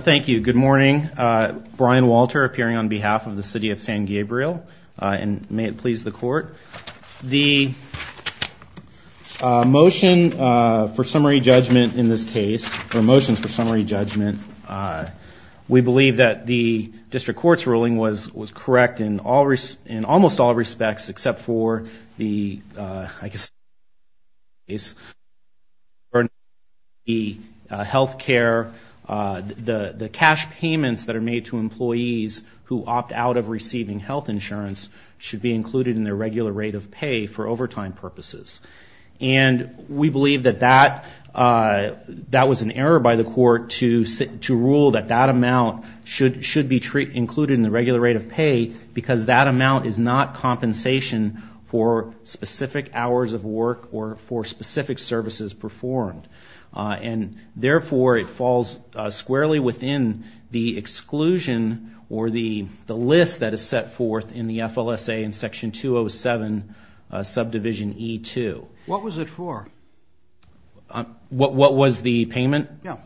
Thank you. Good morning. Brian Walter appearing on behalf of the City of San Gabriel. May it please the court. The motion for summary judgment in this case, or motions for summary judgment, we believe that the district court's ruling was correct in almost all respects except for the I guess, health care, the cash payments that are made to employees who opt out of receiving health insurance should be included in their regular rate of pay for overtime purposes. And we believe that that was an error by the court to rule that that amount should be included in the regular rate of pay because that amount is not compensation for specific hours of work or for specific services performed. And therefore, it falls squarely within the exclusion or the list that is set forth in the FLSA in Section 207, Subdivision E-2. What was it for? What was the payment? Yeah.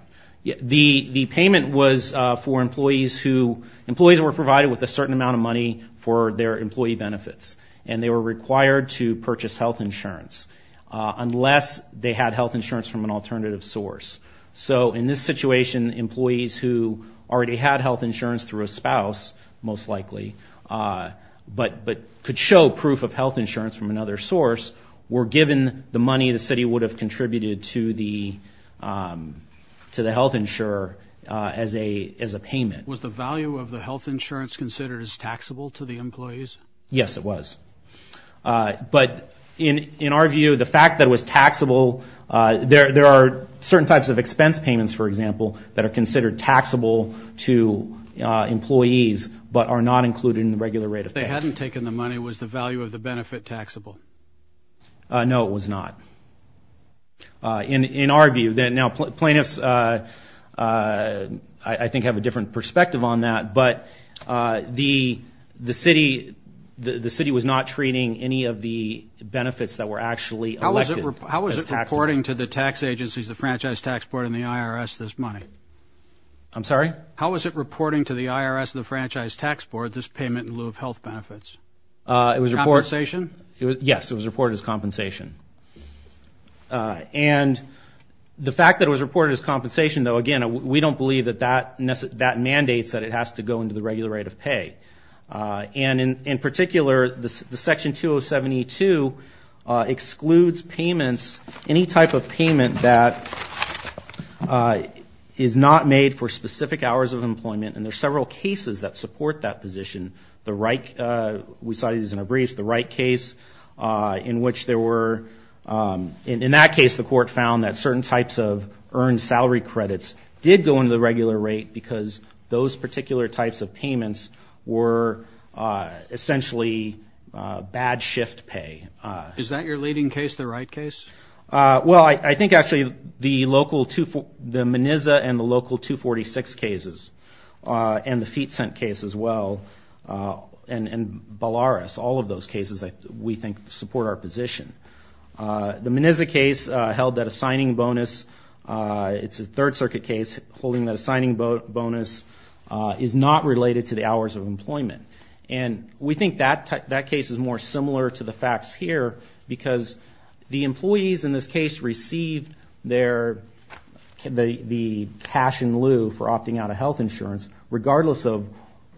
The payment was for employees who, employees were provided with a certain amount of money for their employee benefits and they were required to purchase health insurance. Unless they had health insurance from an alternative source. So in this situation, employees who already had health insurance through a spouse, most likely, but could show proof of health insurance from another source, were given the money the city would have contributed to the health insurer as a payment. Was the value of the health insurance considered as taxable to the employees? Yes, it was. But in our view, the fact that it was taxable, there are certain types of expense payments, for example, that are considered taxable to employees but are not included in the regular rate of pay. If they hadn't taken the money, was the value of the benefit taxable? No, it was not. In our view, now plaintiffs, I think, have a different perspective on that, but the city was not treating any of the benefits that were actually elected as taxable. How was it reporting to the tax agencies, the Franchise Tax Board and the IRS, this money? I'm sorry? How was it reporting to the IRS and the Franchise Tax Board this payment in lieu of health benefits? Compensation? Yes, it was reported as compensation. And the fact that it was reported as compensation, though, again, we don't believe that that mandates that it has to go into the regular rate of pay. And in particular, the section 2072 excludes payments, any type of payment that is not made for specific hours of employment. And there are several cases that support that position. The right, we saw these in a brief, the right case in which there were, in that case, the court found that certain types of earned salary credits did go into the regular rate because those particular types of payments were essentially bad shift pay. Is that your leading case, the right case? Well, I think actually the local, the MENISA and the local 246 cases, and the Feet Cent case as well, and Ballaras, all of those cases we think support our position. The MENISA case held that a signing bonus, it's a third circuit case holding that a signing bonus is not related to the hours of employment. And we think that case is more similar to the facts here because the employees in this case received their, the cash in lieu for opting out of health insurance, regardless of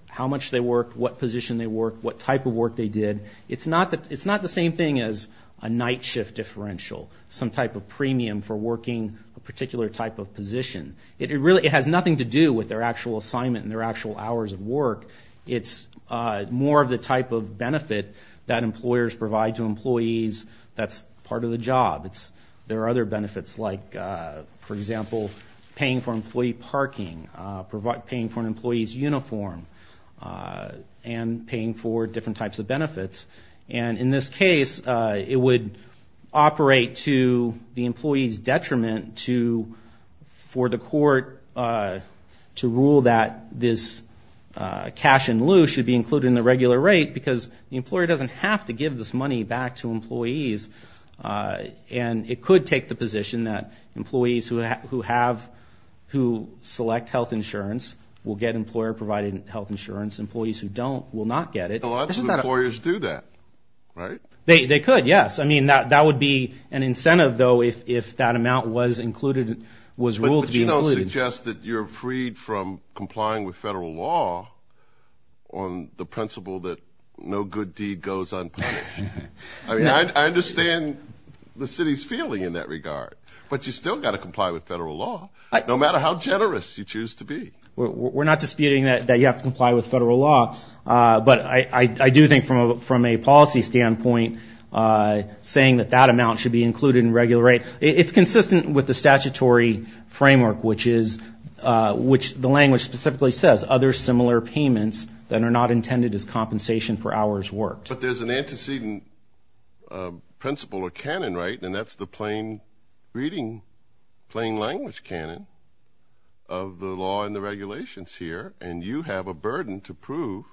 how much they worked, what position they worked, what type of work they did. It's not the same thing as a night shift differential, some type of premium for working a particular type of position. It really, it has nothing to do with their actual assignment and their actual hours of work. It's more of the type of benefit that employers provide to employees that's part of the job. There are other benefits like, for example, paying for employee parking, paying for an employee's uniform, and paying for different types of benefits. And in this case, it would operate to the employee's detriment to, for the court to rule that this cash in lieu should be included in the regular rate because the employer doesn't have to give this money back to employees. And it could take the position that employees who have, who select health insurance will get employer provided health insurance. Employees who don't will not get it. A lot of employers do that, right? They could, yes. I mean, that would be an incentive, though, if that amount was included, was ruled to be included. But you don't suggest that you're freed from complying with federal law on the principle that no good deed goes unpunished. I mean, I understand the city's feeling in that regard, but you still got to comply with federal law, no matter how generous you choose to be. We're not disputing that you have to comply with federal law, but I do think from a policy standpoint, saying that that amount should be included in regular rate. It's consistent with the statutory framework, which is, which the language specifically says, other similar payments that are not intended as compensation for hours worked. But there's an antecedent principle or canon, right? And that's the plain reading, plain language canon of the law and the regulations here. And you have a burden to prove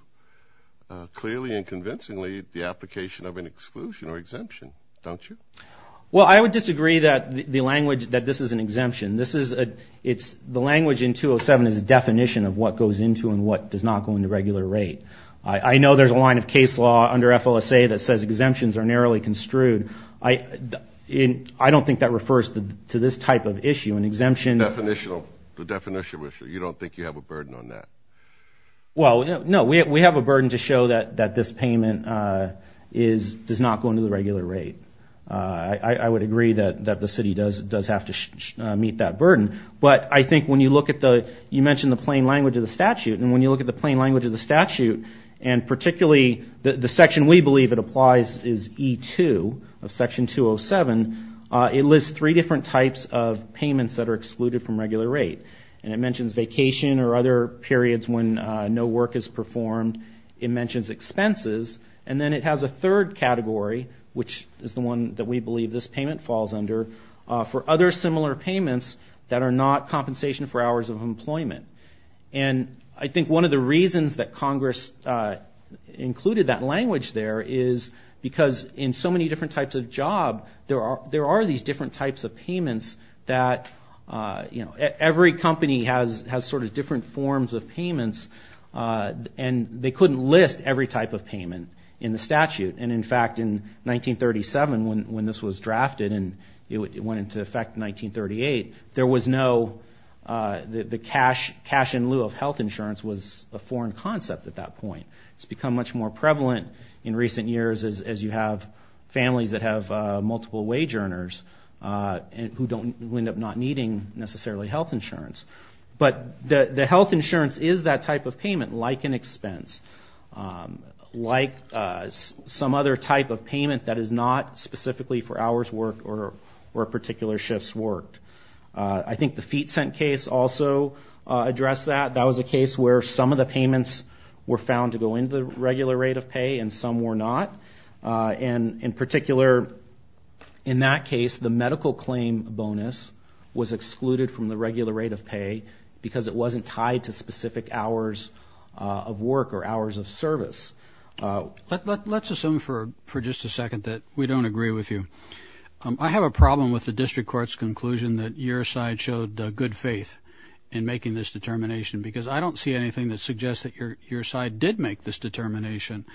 clearly and convincingly the application of an exclusion or exemption, don't you? Well, I would disagree that the language that this is an exemption, this is it's the language in 207 is a definition of what goes into and what does not go into regular rate. I know there's a line of case law under FLSA that says exemptions are narrowly construed. I, I don't think that refers to this type of issue. An exemption. Definitional, the definition, which you don't think you have a burden on that. Well, no, we have a burden to show that that this payment is, does not go into the regular rate. I would agree that that the city does, does have to meet that burden. But I think when you look at the, you mentioned the plain language of the statute. And when you look at the plain language of the statute and particularly the section we believe that applies is E2 of section 207, it lists three different types of payments that are excluded from regular rate. And it mentions vacation or other periods when no work is performed. It mentions expenses. And then it has a third category, which is the one that we believe this payment falls under for other similar payments that are not compensation for hours of employment. And I think one of the reasons that Congress included that language there is because in so many different types of job, there are, there are these different types of payments that you know, every company has, has sort of different forms of payments. And they couldn't list every type of payment in the statute. And in fact, in 1937, when this was drafted and it went into effect in 1938, there was no, the cash, cash in lieu of health insurance was a foreign concept at that point. It's become much more prevalent in recent years as you have families that have multiple wage earners and who don't, who end up not needing necessarily health insurance. But the health insurance is that type of payment, like an expense. Like some other type of payment that is not specifically for hours worked or, or particular shifts worked. I think the Feet Cent case also addressed that. That was a case where some of the payments were found to go into the regular rate of pay and some were not. And in particular, in that case, the medical claim bonus was excluded from the regular rate of pay because it wasn't tied to specific hours of work or hours of service. Let's assume for, for just a second that we don't agree with you. I have a problem with the district court's conclusion that your side showed good faith in making this determination because I don't see anything that suggests that your, your side did make this determination.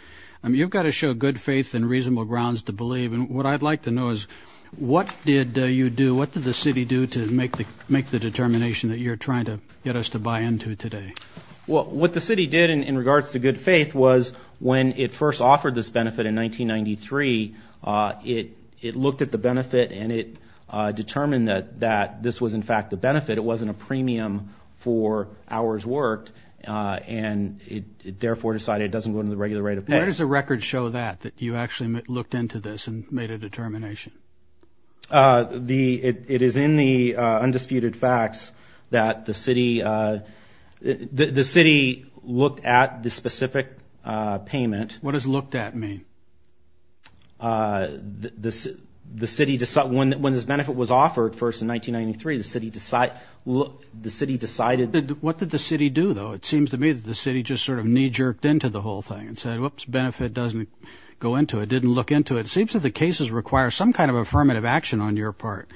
I mean, you've got to show good faith and reasonable grounds to believe. And what I'd like to know is what did you do? What did the city do to make the, make the determination that you're trying to get us to buy into today? Well, what the city did in regards to good faith was when it first offered this benefit in 1993, it, it looked at the benefit and it determined that, that this was in fact a benefit. It wasn't a premium for hours worked and it, it therefore decided it doesn't go into the regular rate of pay. Where does the record show that, that you actually looked into this and made a determination? The, it, it is in the undisputed facts that the city, the city looked at the specific payment. What does looked at mean? The, the, the city, when, when this benefit was offered first in 1993, the city decided, the city decided. What did the city do though? It seems to me that the city just sort of knee jerked into the whole thing and said, whoops, benefit doesn't go into it, didn't look into it. It seems that the cases require some kind of affirmative action on your part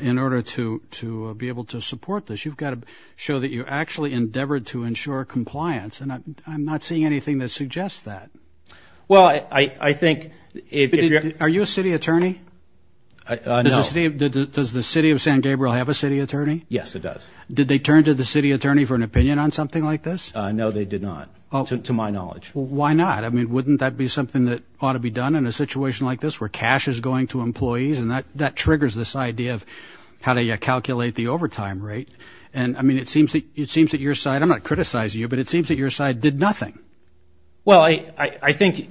in order to, to be able to support this. You've got to show that you actually endeavored to ensure compliance. And I'm not seeing anything that suggests that. Well, I, I, I think if you're, are you a city attorney? Does the city of, does the city of San Gabriel have a city attorney? Yes, it does. Did they turn to the city attorney for an opinion on something like this? No, they did not, to my knowledge. Why not? I mean, wouldn't that be something that ought to be done in a situation like this where cash is going to employees? And that, that triggers this idea of how to calculate the overtime rate. And I mean, it seems that, it seems that your side, I'm not criticizing you, but it seems that your side did nothing. Well, I, I, I think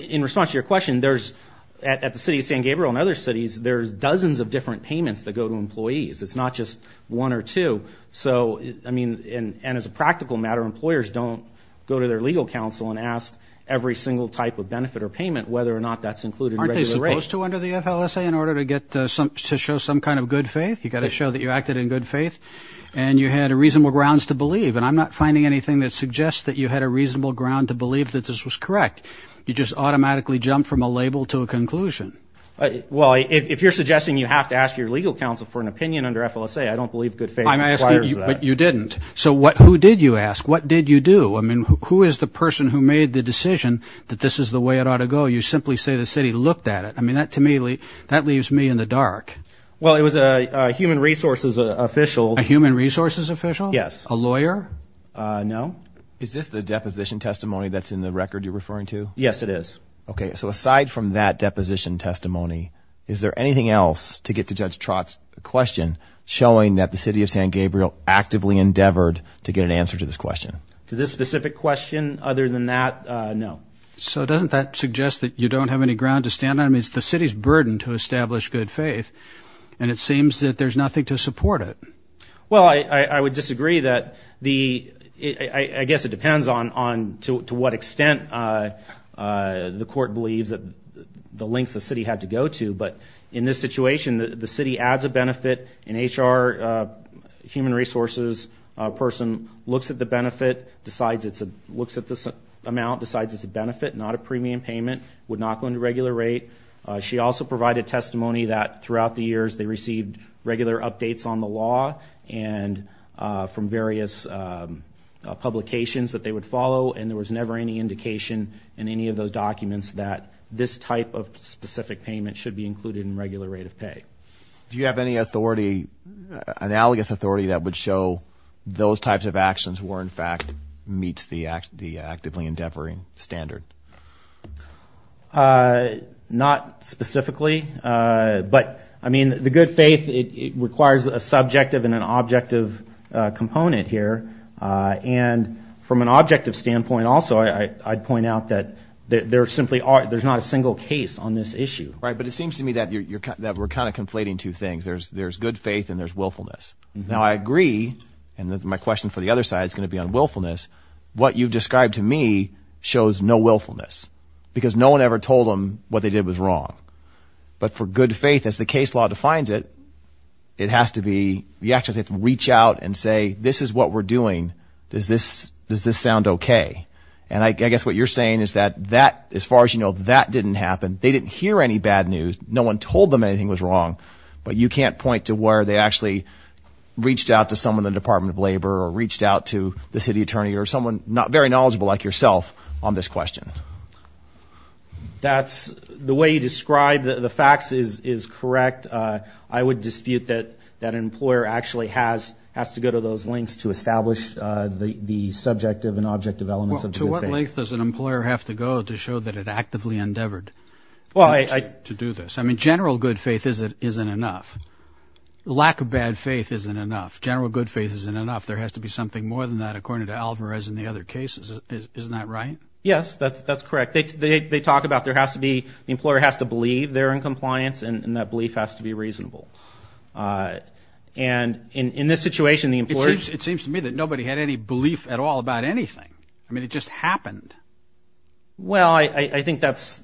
in response to your question, there's, at, at the city of San Gabriel and other cities, there's dozens of different payments that go to employees. It's not just one or two. So, I mean, and, and as a practical matter, employers don't go to their legal counsel and ask every single type of benefit or payment, whether or not that's included. Aren't they supposed to under the FLSA in order to get some, to show some kind of good faith? You got to show that you acted in good faith and you had a reasonable grounds to believe. And I'm not finding anything that suggests that you had a reasonable ground to believe that this was correct. You just automatically jumped from a label to a conclusion. Well, if you're suggesting you have to ask your legal counsel for an opinion under FLSA, I don't believe good faith. I'm asking you, but you didn't. So what, who did you ask? What did you do? I mean, who is the person who made the decision that this is the way it ought to go? You simply say the city looked at it. I mean, that to me, that leaves me in the dark. Well, it was a human resources official. A human resources official? Yes. A lawyer? No. Is this the deposition testimony that's in the record you're referring to? Yes, it is. Okay. So aside from that deposition testimony, is there anything else to get to Judge Trott's question showing that the city of San Gabriel actively endeavored to get an answer to this question? To this specific question, other than that, no. So doesn't that suggest that you don't have any ground to stand on? I mean, it's the city's burden to establish good faith, and it seems that there's nothing to support it. Well, I would disagree that the, I guess it depends on to what extent the court believes that the lengths the city had to go to. But in this situation, the city adds a benefit, an HR, human resources person looks at the benefit, decides it's a, looks at this amount, decides it's a benefit, not a premium payment, would not go into regular rate. She also provided testimony that throughout the years they received regular updates on the law and from various publications that they would follow. And there was never any indication in any of those documents that this type of specific payment should be included in regular rate of pay. Do you have any authority, analogous authority that would show those types of actions were in fact meets the actively endeavoring standard? Not specifically, but I mean, the good faith, it requires a subjective and an objective component here. And from an objective standpoint, also, I'd point out that there simply are there's not a single case on this issue. Right. But it seems to me that you're that we're kind of conflating two things. There's there's good faith and there's willfulness. Now, I agree. And my question for the other side is going to be on willfulness. What you've described to me shows no willfulness because no one ever told them what they did was wrong. But for good faith, as the case law defines it, it has to be the actually reach out and say, this is what we're doing. Does this does this sound OK? And I guess what you're saying is that that as far as you know, that didn't happen. They didn't hear any bad news. No one told them anything was wrong, but you can't point to where they actually reached out to someone in the Department of Labor or reached out to the city attorney or someone not very knowledgeable like yourself on this question. That's the way you describe the facts is is correct. I would dispute that that employer actually has has to go to those links to establish the subjective and objective elements. To what length does an employer have to go to show that it actively endeavored to do this? I mean, general good faith isn't isn't enough. Lack of bad faith isn't enough. General good faith isn't enough. There has to be something more than that, according to Alvarez and the other cases. Isn't that right? Yes, that's that's correct. They talk about there has to be the employer has to believe they're in compliance and that belief has to be reasonable. And in this situation, the employers. It seems to me that nobody had any belief at all about anything. I mean, it just happened. Well, I think that's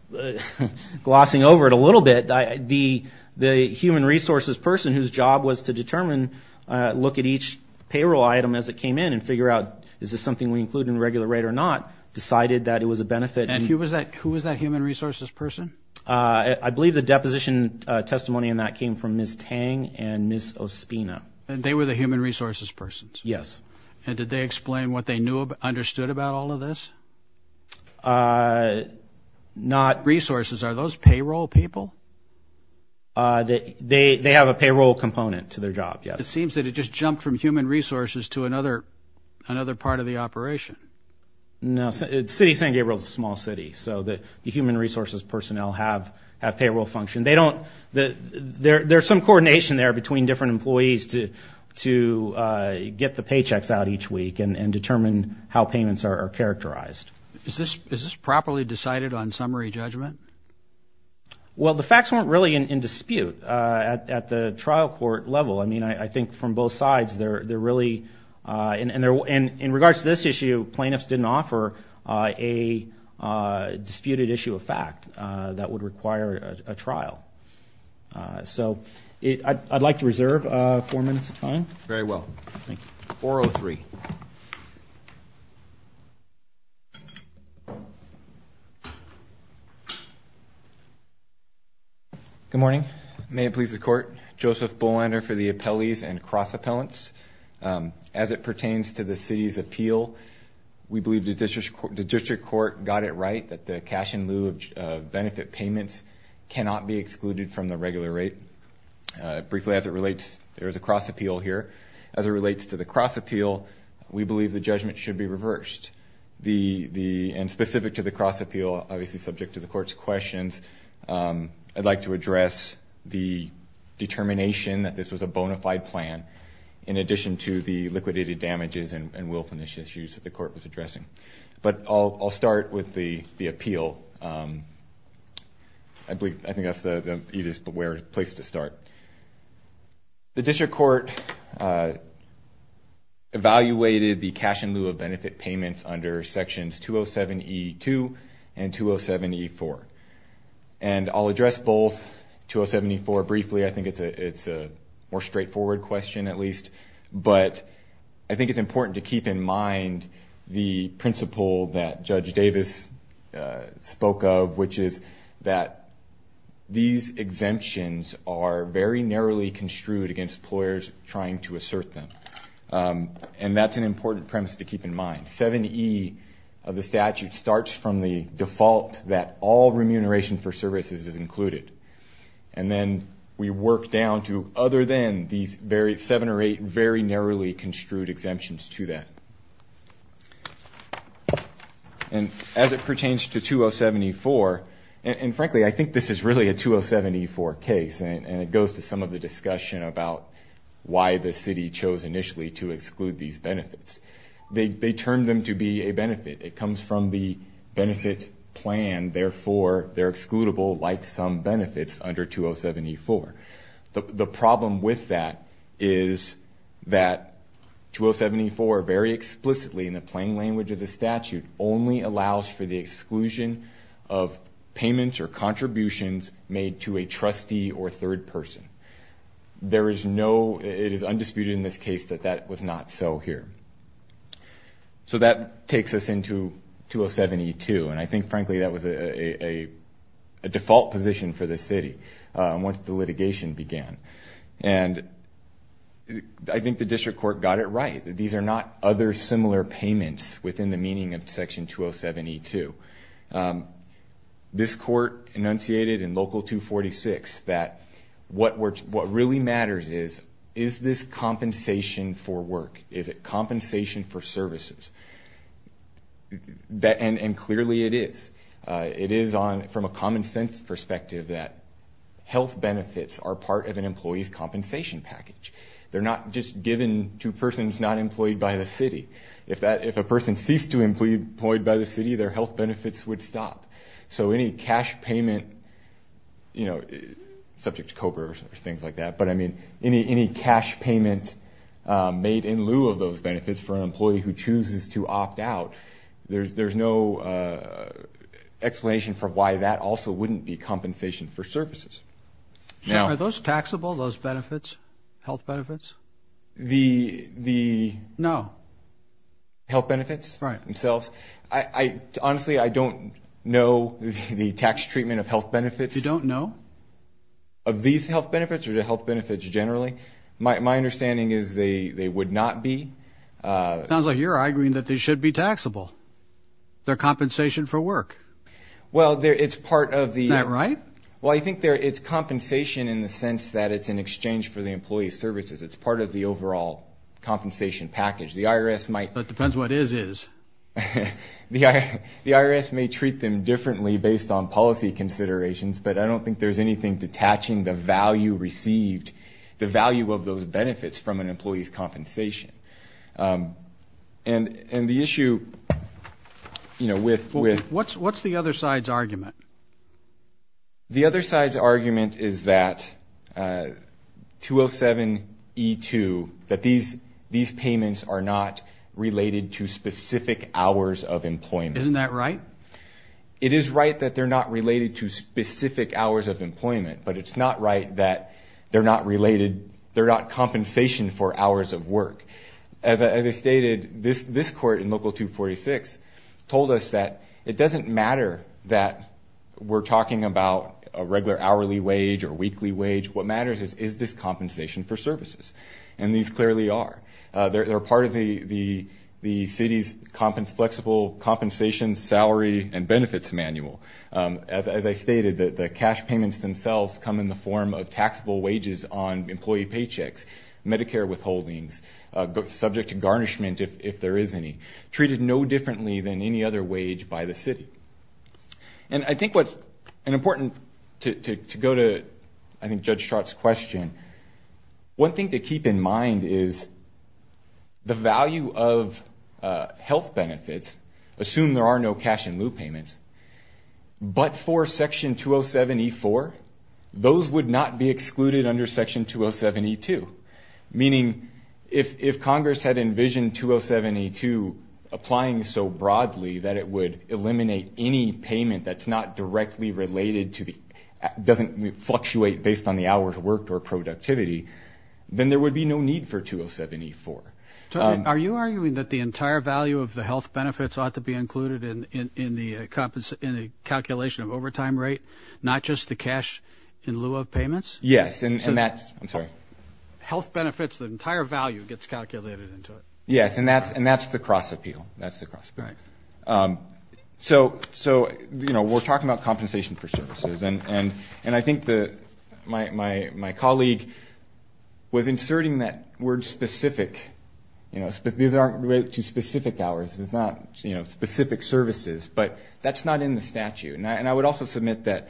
glossing over it a little bit. The the human resources person whose job was to determine, look at each payroll item as it came in and figure out, is this something we include in regular rate or not? Decided that it was a benefit. And he was that who was that human resources person? I believe the deposition testimony in that came from Miss Tang and Miss Ospina. And they were the human resources persons. Yes. And did they explain what they knew, understood about all of this? Not resources. Are those payroll people? They they have a payroll component to their job. Yes. It seems that it just jumped from human resources to another another part of the operation. No city. San Gabriel is a small city. So the human resources personnel have have payroll function. And they don't that there's some coordination there between different employees to to get the paychecks out each week and determine how payments are characterized. Is this is this properly decided on summary judgment? Well, the facts weren't really in dispute at the trial court level. I mean, I think from both sides there, they're really in there. And in regards to this issue, plaintiffs didn't offer a disputed issue of fact that would require a trial. So I'd like to reserve four minutes of time. Very well. Thank you. 403. Good morning. May it please the court. Joseph Bullender for the appellees and cross appellants. As it pertains to the city's appeal. We believe the district court got it right that the cash in lieu of benefit payments cannot be excluded from the regular rate. Briefly, as it relates, there is a cross appeal here. As it relates to the cross appeal, we believe the judgment should be reversed. The the and specific to the cross appeal, obviously subject to the court's questions. I'd like to address the determination that this was a bona fide plan. In addition to the liquidated damages and will finish issues that the court was addressing. But I'll start with the appeal. I believe I think that's the easiest place to start. The district court evaluated the cash in lieu of benefit payments under sections 207 E2 and 207 E4. And I'll address both 207 E4 briefly. I think it's a it's a more straightforward question, at least. But I think it's important to keep in mind the principle that Judge Davis spoke of. Which is that these exemptions are very narrowly construed against employers trying to assert them. And that's an important premise to keep in mind. 70 of the statute starts from the default that all remuneration for services is included. And then we work down to other than these very seven or eight very narrowly construed exemptions to that. And as it pertains to 207 E4. And frankly, I think this is really a 207 E4 case. And it goes to some of the discussion about why the city chose initially to exclude these benefits. They termed them to be a benefit. It comes from the benefit plan. And therefore they're excludable like some benefits under 207 E4. The problem with that is that 207 E4 very explicitly in the plain language of the statute. Only allows for the exclusion of payments or contributions made to a trustee or third person. There is no it is undisputed in this case that that was not so here. So that takes us into 207 E2. And I think frankly that was a default position for the city once the litigation began. And I think the district court got it right. These are not other similar payments within the meaning of section 207 E2. This court enunciated in Local 246 that what really matters is, is this compensation for work? Is it compensation for services? And clearly it is. It is from a common sense perspective that health benefits are part of an employee's compensation package. They're not just given to persons not employed by the city. If a person ceased to be employed by the city, their health benefits would stop. So any cash payment, you know, subject to COBRA or things like that. But, I mean, any cash payment made in lieu of those benefits for an employee who chooses to opt out. There's no explanation for why that also wouldn't be compensation for services. Are those taxable, those benefits, health benefits? The... No. Health benefits themselves. Honestly, I don't know the tax treatment of health benefits. You don't know? Of these health benefits or the health benefits generally? My understanding is they would not be. Sounds like you're arguing that they should be taxable. They're compensation for work. Well, it's part of the... Is that right? Well, I think it's compensation in the sense that it's in exchange for the employee's services. It's part of the overall compensation package. The IRS might... That depends what is, is. The IRS may treat them differently based on policy considerations, but I don't think there's anything detaching the value received, the value of those benefits from an employee's compensation. And the issue, you know, with... What's the other side's argument? The other side's argument is that 207E2, that these payments are not related to specific hours of employment. Isn't that right? It is right that they're not related to specific hours of employment, but it's not right that they're not related... They're not compensation for hours of work. As I stated, this court in Local 246 told us that it doesn't matter that we're talking about a regular hourly wage or weekly wage. What matters is, is this compensation for services? And these clearly are. They're part of the city's flexible compensation, salary, and benefits manual. As I stated, the cash payments themselves come in the form of taxable wages on employee paychecks, Medicare withholdings, subject to garnishment if there is any, treated no differently than any other wage by the city. And I think what's important to go to, I think, Judge Strott's question, one thing to keep in mind is the value of health benefits, assume there are no cash-in-lieu payments, but for Section 207E4, those would not be excluded under Section 207E2. Meaning, if Congress had envisioned 207E2 applying so broadly that it would eliminate any payment that's not directly related to the... productivity, then there would be no need for 207E4. Are you arguing that the entire value of the health benefits ought to be included in the calculation of overtime rate, not just the cash-in-lieu of payments? Yes. And that's... I'm sorry. Health benefits, the entire value gets calculated into it. Yes. And that's the cross-appeal. That's the cross-appeal. Right. So, you know, we're talking about compensation for services. And I think my colleague was inserting that word specific. You know, these aren't related to specific hours. It's not, you know, specific services. But that's not in the statute. And I would also submit that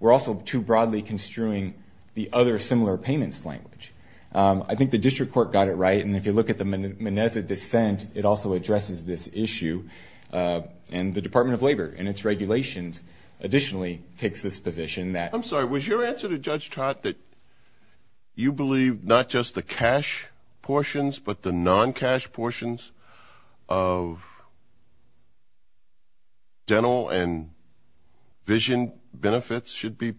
we're also too broadly construing the other similar payments language. I think the district court got it right. And if you look at the Meneza dissent, it also addresses this issue. And the Department of Labor, in its regulations, additionally takes this position that... I'm sorry. Was your answer to Judge Trott that you believe not just the cash portions, but the non-cash portions of dental and vision benefits should be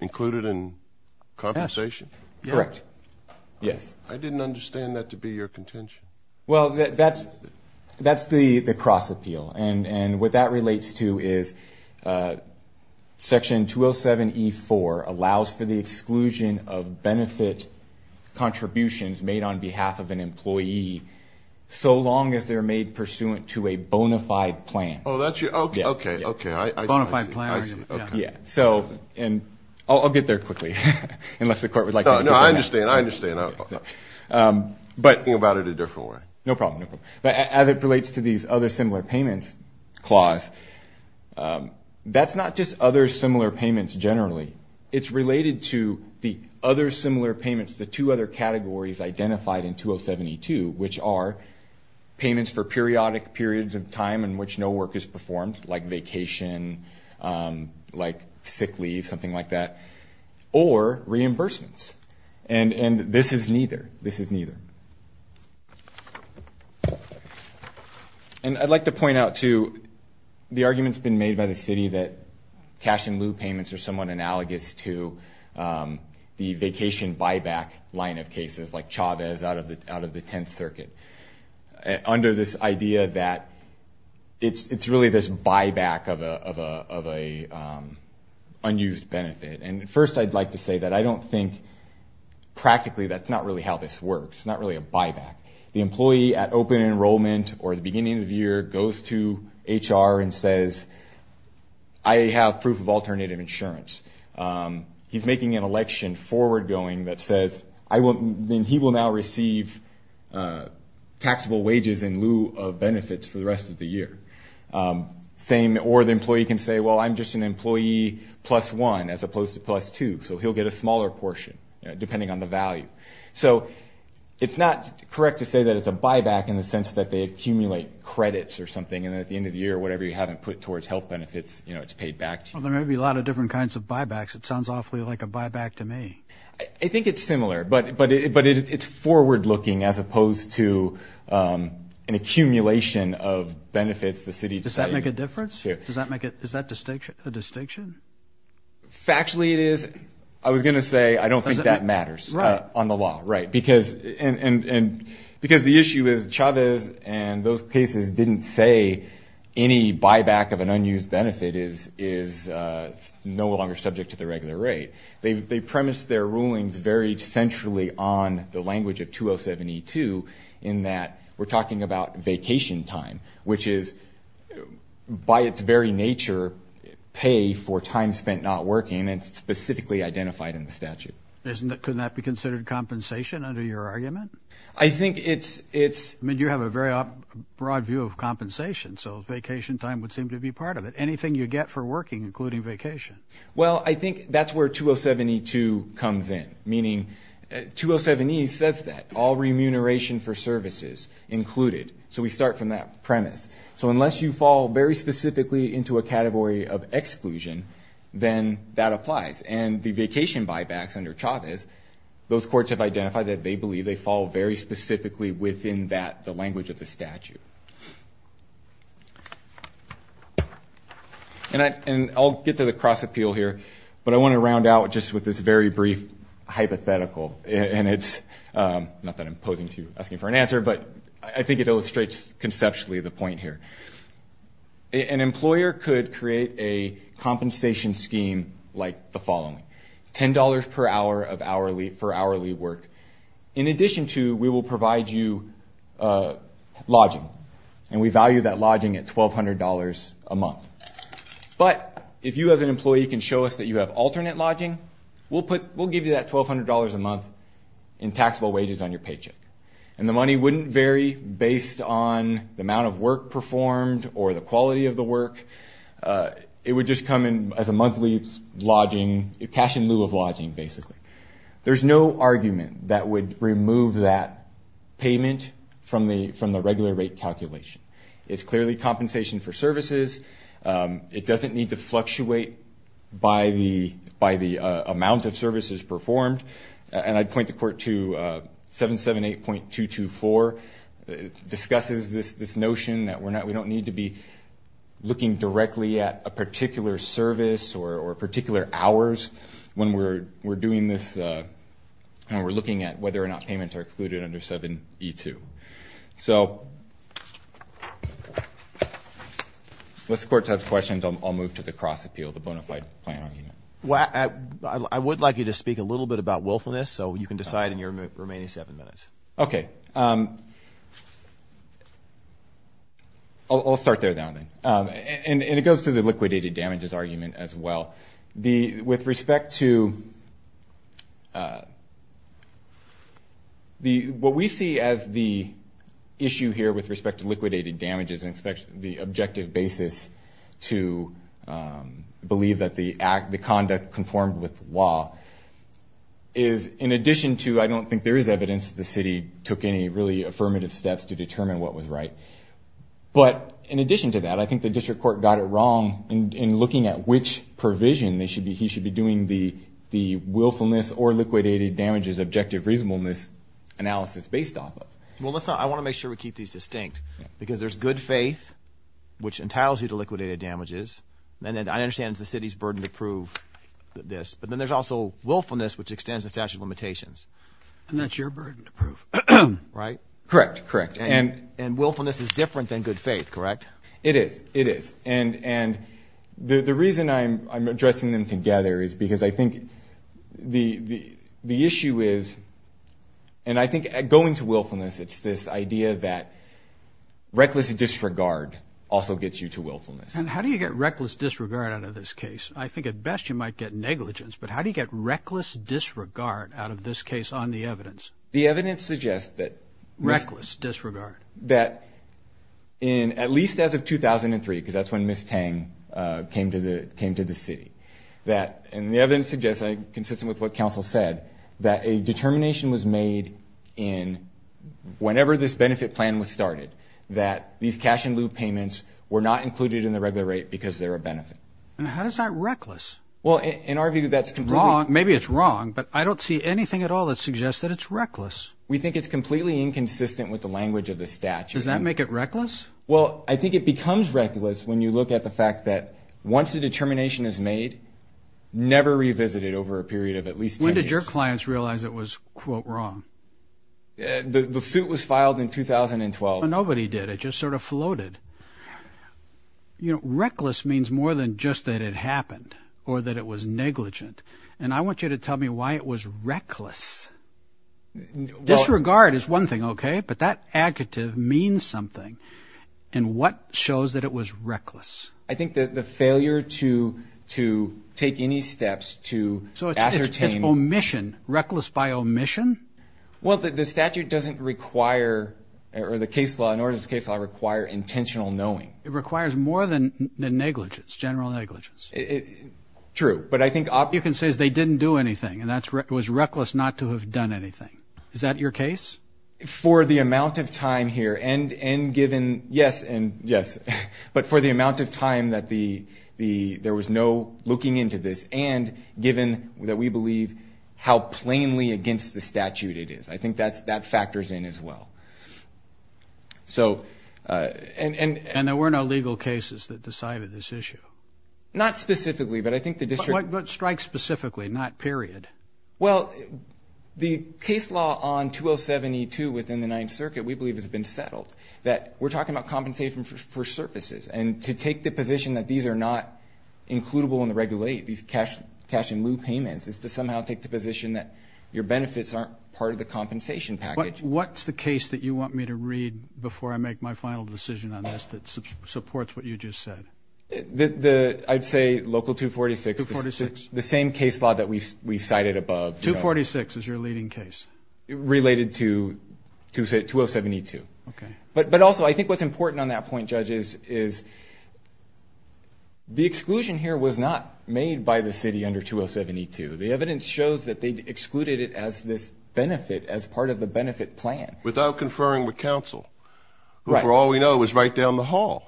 included in compensation? Yes. Correct. Yes. I didn't understand that to be your contention. Well, that's the cross-appeal. And what that relates to is Section 207E4 allows for the exclusion of benefit contributions made on behalf of an employee so long as they're made pursuant to a bona fide plan. Oh, that's your... Okay. Okay. Okay. I see. I see. Bona fide plan. So, and I'll get there quickly, unless the court would like to... No, no. I understand. I understand. But... Think about it a different way. No problem. No problem. So, in this clause, that's not just other similar payments generally. It's related to the other similar payments, the two other categories identified in 207E2, which are payments for periodic periods of time in which no work is performed, like vacation, like sick leave, something like that, or reimbursements. And this is neither. This is neither. And I'd like to point out, too, the argument's been made by the city that cash-in-lieu payments are somewhat analogous to the vacation buyback line of cases, like Chavez out of the Tenth Circuit, under this idea that it's really this buyback of an unused benefit. And first, I'd like to say that I don't think, practically, that's not really how this works, not really a buyback. The employee at open enrollment or the beginning of the year goes to HR and says, I have proof of alternative insurance. He's making an election forward-going that says, he will now receive taxable wages in lieu of benefits for the rest of the year. Or the employee can say, well, I'm just an employee plus one, as opposed to plus two, so he'll get a smaller portion, depending on the value. So it's not correct to say that it's a buyback in the sense that they accumulate credits or something, and at the end of the year, whatever you haven't put towards health benefits, it's paid back to you. Well, there may be a lot of different kinds of buybacks. It sounds awfully like a buyback to me. I think it's similar, but it's forward-looking as opposed to an accumulation of benefits. Does that make a difference? Is that a distinction? Factually, it is. I was going to say, I don't think that matters on the law. Because the issue is, Chavez and those cases didn't say any buyback of an unused benefit is no longer subject to the regular rate. They premised their rulings very centrally on the language of 2072, in that we're talking about vacation time, which is, by its very nature, pay for time spent not working, and it's specifically identified in the statute. Couldn't that be considered compensation under your argument? I think it's... You have a very broad view of compensation, so vacation time would seem to be part of it. Anything you get for working, including vacation. Well, I think that's where 2072 comes in, meaning 207E says that, all remuneration for services included. So we start from that premise. So unless you fall very specifically into a category of exclusion, then that applies. And the vacation buybacks under Chavez, those courts have identified that they believe they fall very specifically within that, the language of the statute. And I'll get to the cross-appeal here, but I want to round out just with this very brief hypothetical, and it's... Not that I'm posing to you, asking for an answer, but I think it illustrates, conceptually, the point here. An employer could create a compensation scheme like the following. $10 per hour for hourly work. In addition to, we will provide you lodging, and we value that lodging at $1,200 a month. But if you, as an employee, can show us that you have alternate lodging, we'll give you that $1,200 a month in taxable wages on your paycheck. And the money wouldn't vary based on the amount of work performed, or the quality of the work. It would just come in as a monthly lodging, cash in lieu of lodging, basically. There's no argument that would remove that payment from the regular rate calculation. It's clearly compensation for services. It doesn't need to fluctuate by the amount of services performed. And I'd point the court to 778.224. It discusses this notion that we don't need to be looking directly at a particular service or particular hours when we're doing this, when we're looking at whether or not payments are excluded under 7E2. So, unless the court has questions, I'll move to the cross-appeal, the bona fide plan argument. I would like you to speak a little bit about willfulness, so you can decide in your remaining seven minutes. Okay. I'll start there then. And it goes to the liquidated damages argument as well. With respect to... What we see as the issue here with respect to liquidated damages and the objective basis to believe that the conduct conformed with law is in addition to, I don't think there is evidence that the city took any really affirmative steps to determine what was right. But in addition to that, I think the district court got it wrong in looking at which provision he should be doing the willfulness or liquidated damages objective reasonableness analysis based off of. Well, I want to make sure we keep these distinct. Because there's good faith, which entitles you to liquidated damages. And then I understand it's the city's burden to prove this. But then there's also willfulness, which extends the statute of limitations. And that's your burden to prove, right? Correct, correct. And willfulness is different than good faith, correct? It is, it is. And the reason I'm addressing them together is because I think the issue is, and I think going to willfulness, it's this idea that reckless disregard also gets you to willfulness. And how do you get reckless disregard out of this case? I think at best you might get negligence. But how do you get reckless disregard out of this case on the evidence? The evidence suggests that... Reckless disregard. ...that at least as of 2003, because that's when Ms. Tang came to the city, and the evidence suggests, consistent with what counsel said, that a determination was made in whenever this benefit plan was started that these cash-in-lieu payments were not included in the regular rate because they're a benefit. And how is that reckless? Well, in our view, that's completely... Maybe it's wrong, but I don't see anything at all that suggests that it's reckless. We think it's completely inconsistent with the language of the statute. Does that make it reckless? Well, I think it becomes reckless when you look at the fact that once a determination is made, never revisit it over a period of at least 10 years. When did your clients realize it was, quote, wrong? The suit was filed in 2012. Nobody did. It just sort of floated. You know, reckless means more than just that it happened, or that it was negligent. And I want you to tell me why it was reckless. Disregard is one thing, okay, but that adjective means something. And what shows that it was reckless? I think that the failure to take any steps to ascertain... So it's omission, reckless by omission? Well, the statute doesn't require, or the case law, nor does the case law require intentional knowing. It requires more than negligence, general negligence. True, but I think... All you can say is they didn't do anything, and it was reckless not to have done anything. Is that your case? For the amount of time here, and given... Yes, and yes, but for the amount of time that there was no looking into this, and given that we believe how plainly against the statute it is. I think that factors in as well. So, and... And there were no legal cases that decided this issue? Not specifically, but I think the district... What strikes specifically, not period? Well, the case law on 207E2 within the Ninth Circuit, we believe has been settled, that we're talking about compensation for services, and to take the position that these are not includable in the regulate, these cash-in-lieu payments, is to somehow take the position that your benefits aren't part of the compensation package. What's the case that you want me to read before I make my final decision on this that supports what you just said? I'd say Local 246. 246? The same case law that we cited above. 246 is your leading case? Related to 207E2. Okay. But also, I think what's important on that point, Judge, is the exclusion here was not made by the city under 207E2. The evidence shows that they excluded it as this benefit, as a benefit plan. Without conferring with counsel. Right. For all we know, it was right down the hall.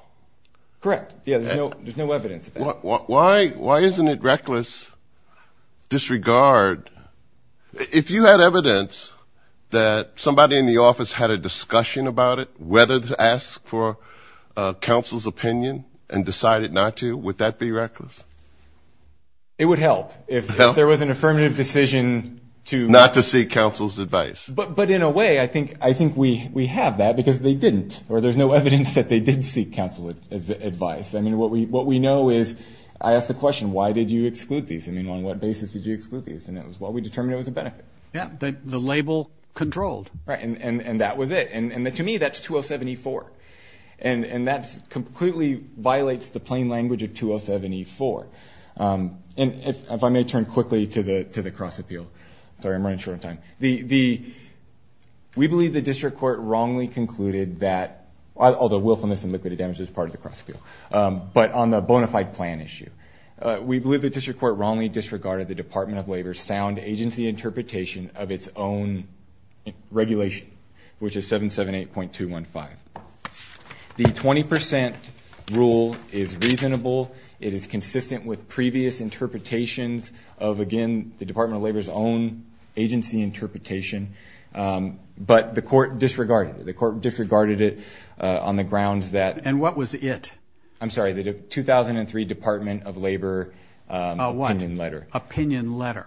Correct. Yeah, there's no evidence of that. Why isn't it reckless disregard? If you had evidence that somebody in the office had a discussion about it, whether to ask for counsel's opinion and decided not to, would that be reckless? It would help. If there was an affirmative decision to... Today, I think we have that because they didn't, or there's no evidence that they did seek counsel's advice. What we know is, I asked the question, why did you exclude these? On what basis did you exclude these? We determined it was a benefit. Yeah, the label controlled. Right, and that was it. To me, that's 207E4. That completely violates the plain language of 207E4. If I may turn quickly we believe the district court wrongly concluded that, although willfulness and liquid damage is part of the cross appeal, but on the bona fide plan issue, we believe the district court wrongly disregarded the Department of Labor's sound agency interpretation of its own regulation, which is 778.215. The 20% rule is reasonable. It is consistent with previous interpretations of, again, the Department of Labor's own agency interpretation. But the court disregarded it. The court disregarded it on the grounds that... And what was it? I'm sorry, the 2003 Department of Labor opinion letter. Opinion letter.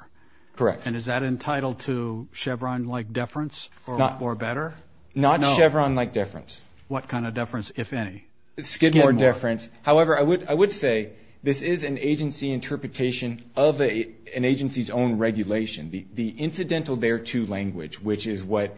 Correct. And is that entitled to Chevron-like deference or better? Not Chevron-like deference. What kind of deference, if any? Skidmore deference. However, I would say this is an agency interpretation of an agency's own regulation. The incidental thereto language, which is what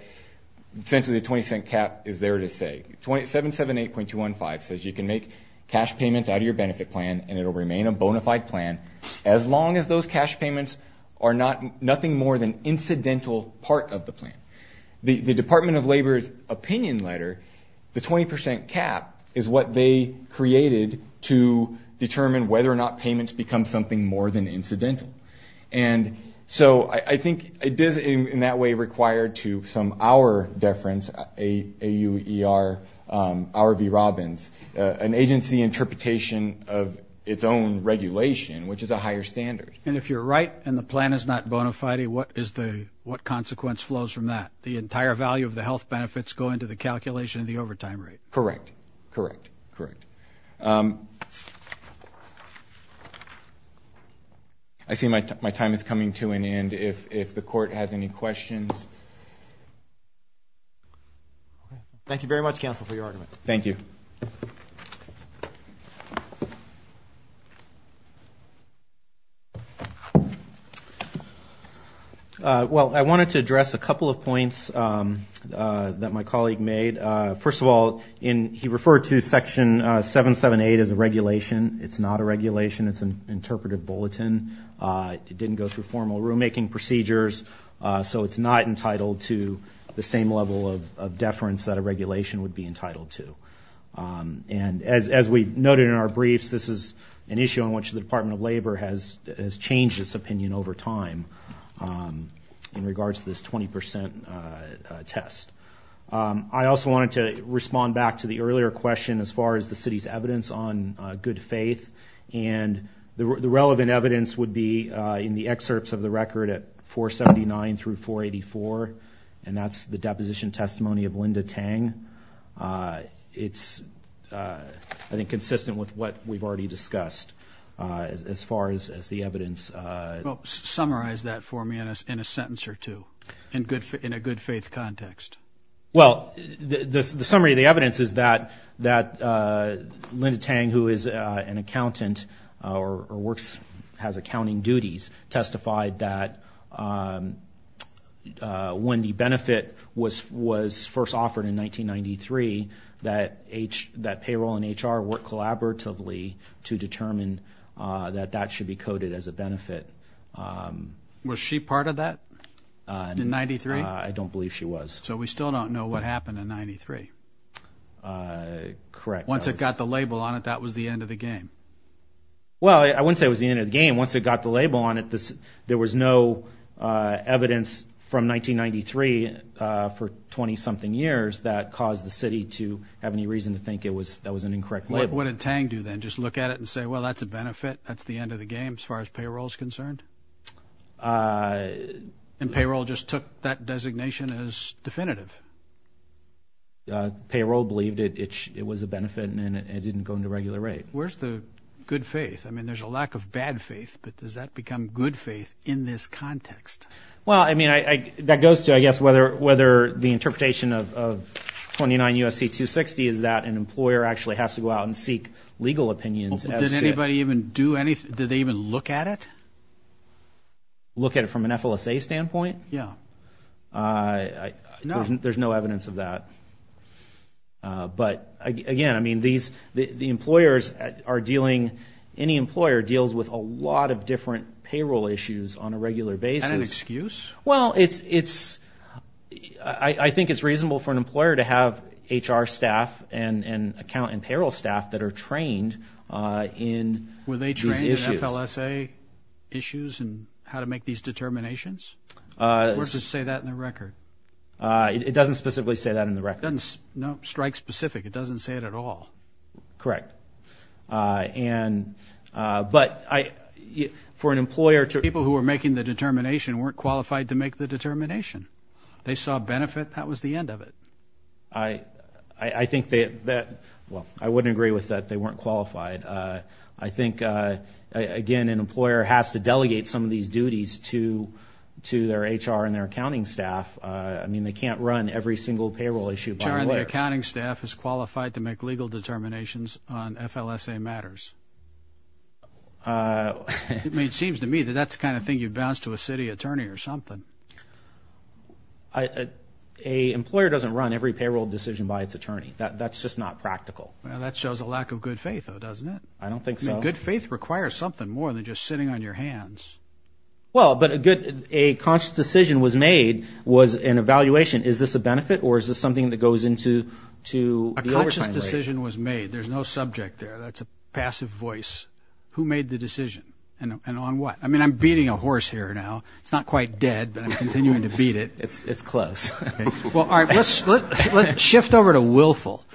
essentially the 20 cent cap is there to say. 778.215 says you can make cash payments out of your benefit plan and it will remain a bona fide plan as long as those cash payments are nothing more than incidental part of the plan. The Department of Labor's opinion letter, the 20% cap, is what they created to determine whether or not it is an incidental. And so I think it is in that way required to some hour deference, AUER, R.V. Robbins, an agency interpretation of its own regulation, which is a higher standard. And if you're right and the plan is not bona fide, what consequence flows from that? The entire value of the health benefits go into the calculation of the overtime rate. Correct. Correct. Correct. I see my time is coming to an end. If the court has any questions. Thank you very much, counsel, for your argument. Thank you. Well, I wanted to address a couple of points that my colleague made. First of all, he referred to Section 778 as a regulation. It's not a regulation. It's an interpretive bulletin. It didn't go through formal rulemaking procedures. So it's not entitled to the same level of deference that a regulation would be entitled to. And as we noted in our briefs, this is an issue on which the Department of Labor has changed its opinion over time in regards to this 20% test. I also wanted to respond back to the earlier question as far as the city's evidence on good faith. And the relevant evidence would be in the excerpts of the record at 479 through 484. And that's the deposition testimony of Linda Tang. It's, I think, consistent with what we've already discussed as far as the evidence. Summarize that for me in a sentence or two in a good faith context. Well, the summary of the evidence is that Linda Tang, who is an accountant or works, has accounting duties, testified that when the benefit was first offered in 1993, that payroll and HR worked collaboratively to determine that that should be coded as a benefit. Was she part of that in 93? I don't believe she was. So we still don't know what happened in 93. Correct. Once it got the label on it, that was the end of the game. Well, I wouldn't say it was the end of the game. Once it got the label on it, there was no evidence from 1993 for 20-something years that caused the city to have any reason to think that was an incorrect label. What did Tang do then? Just look at it and say, well, that's a benefit. That's the end of the game as far as payroll is concerned? And payroll just took that designation as definitive. Payroll believed it was a benefit and it didn't go into regular rate. Where's the good faith? I mean, there's a lack of bad faith, but does that become good faith in this context? Well, I mean, that goes to, I guess, whether the interpretation of 29 U.S.C. 260 is that an employer actually has to go out and seek legal opinions as to... Did anybody even do anything? Did they even look at it? Look at it from an FLSA standpoint? Yeah. There's no evidence of that. But, again, I mean, the employers are dealing... Any employer deals with a lot of different payroll issues on a regular basis. And an excuse? Well, it's... I think it's reasonable for an employer to have HR staff and account and payroll staff that are trained in these issues. Were they trained in FLSA issues and how to make these determinations? Or is this just... It doesn't say that in the record. It doesn't specifically say that in the record? No. Strike specific. It doesn't say it at all. Correct. And... But I... For an employer to... People who were making the determination weren't qualified to make the determination. They saw benefit. That was the end of it. I think that... Well, I wouldn't agree with that. They weren't qualified. I think, again, an employer has to delegate some of these duties to their HR and their accounting staff. I mean, they can't run every single payroll issue by themselves. The accounting staff is qualified to make legal determinations on FLSA matters. It seems to me that that's the kind of thing you'd bounce to a city attorney or something. I... An employer doesn't run every payroll decision by its attorney. That's just not practical. Well, that shows a lack of good faith, though, doesn't it? I don't think so. Good faith requires something more than just sitting on your hands. Well, but a good... A conscious decision was made was an evaluation. Is this a benefit or is this something that goes into the overtime rate? A conscious decision was made. There's no subject there. That's a passive voice. Who made the decision and on what? I mean, I'm beating a horse here now. It's not quite dead, but I'm continuing to beat it. It's close. Well, all right. Let's shift over to willful.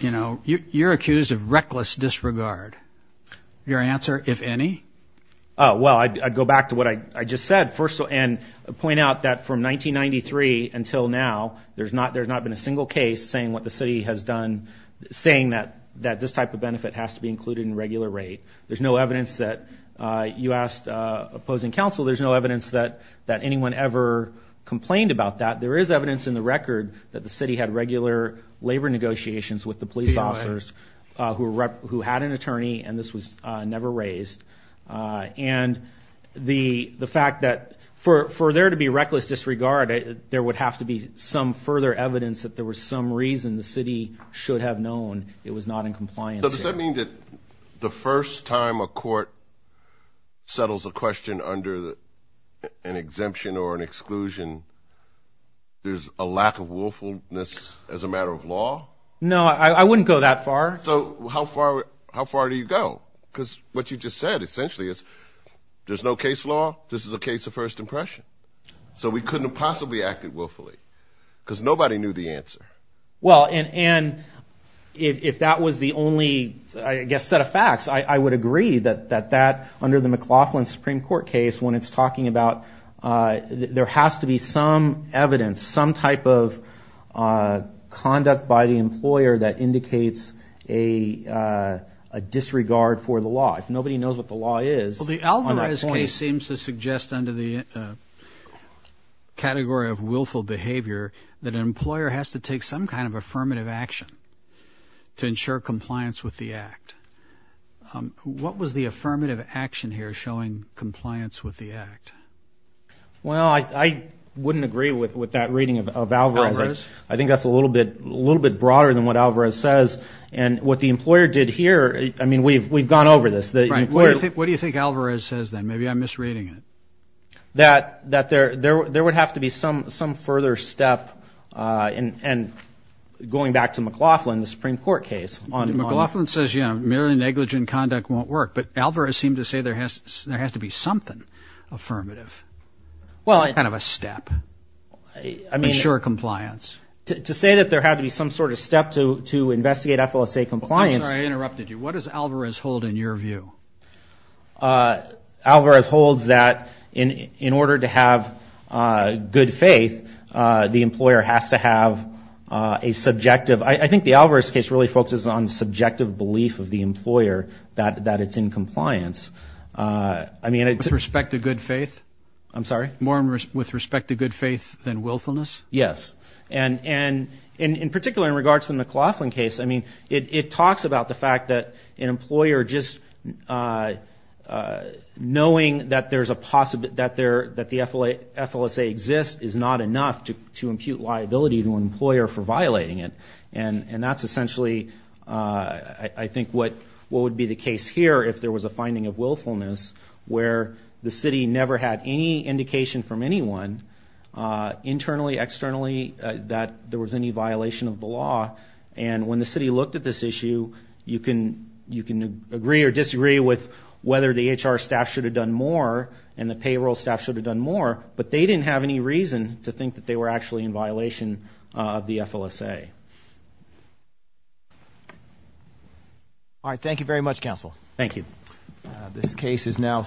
You know, you're accused of reckless disregard. Your answer, if any? Oh, well, I'd go back to what I just said first and point out that from 1993 until now, there's not been a single case saying what the city has done, saying that this type of benefit has to be included in regular rate. There's no evidence that you asked opposing counsel. There's no evidence that anyone ever complained about that. There is evidence in the record that the city had regular labor negotiations with the police officers who had an attorney and this was never raised. And the fact that for there to be reckless disregard, there would have to be some further evidence that there was some reason the city should have known it was not in compliance. Does that mean that the first time a court settles a question under an exemption or an exclusion, there's a lack of willfulness as a matter of law? No, I wouldn't go that far. So how far do you go? Because what you just said essentially is there's no case law. This is a case of first impression. So we couldn't have possibly acted willfully because nobody knew the answer. Well, and if that was the only I guess set of facts, I would agree that that under the McLaughlin Supreme Court case when it's talking about there has to be some evidence, some type of conduct by the employer that indicates a disregard for the law. If nobody knows what the law is on that point... Well, the Alvarez case seems to suggest under the category of willful behavior that an employer has to take some kind of affirmative action to ensure compliance with the act. What was the affirmative action here showing compliance with the act? Well, I wouldn't agree with that reading of Alvarez. I think that's a little bit broader than what Alvarez says and what the employer did here... I mean, we've gone over this. Right. What do you think Alvarez says then? Maybe I'm misreading it. That there would have to be some further step and going back to McLaughlin, the Supreme Court case... McLaughlin says, you know, merely negligent conduct won't work, but Alvarez seemed to say there has to be something affirmative. Well... Some kind of a step to ensure compliance. To say that there had to be some sort of step to investigate FLSA compliance... I'm sorry, I interrupted you. What does Alvarez hold in your view? Alvarez holds that in order to have good faith, the employer has to have a subjective... I think the Alvarez case really focuses on subjective belief of the employer that it's in compliance. I mean... With respect to good faith? I'm sorry? More with respect to good faith than willfulness? Yes. And in particular in regards to the McLaughlin case, I mean, it talks about the fact that an employer just knowing that there's a possibility... that the FLSA exists is not enough to impute liability to an employer for violating it. And that's essentially, I think, what would be the case here if there was a finding of willfulness where the city never had any indication from anyone internally, externally, that there was any violation of the law. And when the city looked at this issue, you can... you can agree or disagree with whether the HR staff should have done more and the payroll staff should have done more, but they didn't have any reason to think that they were actually in violation of the FLSA. All right. Thank you very much, counsel. Thank you. This case is now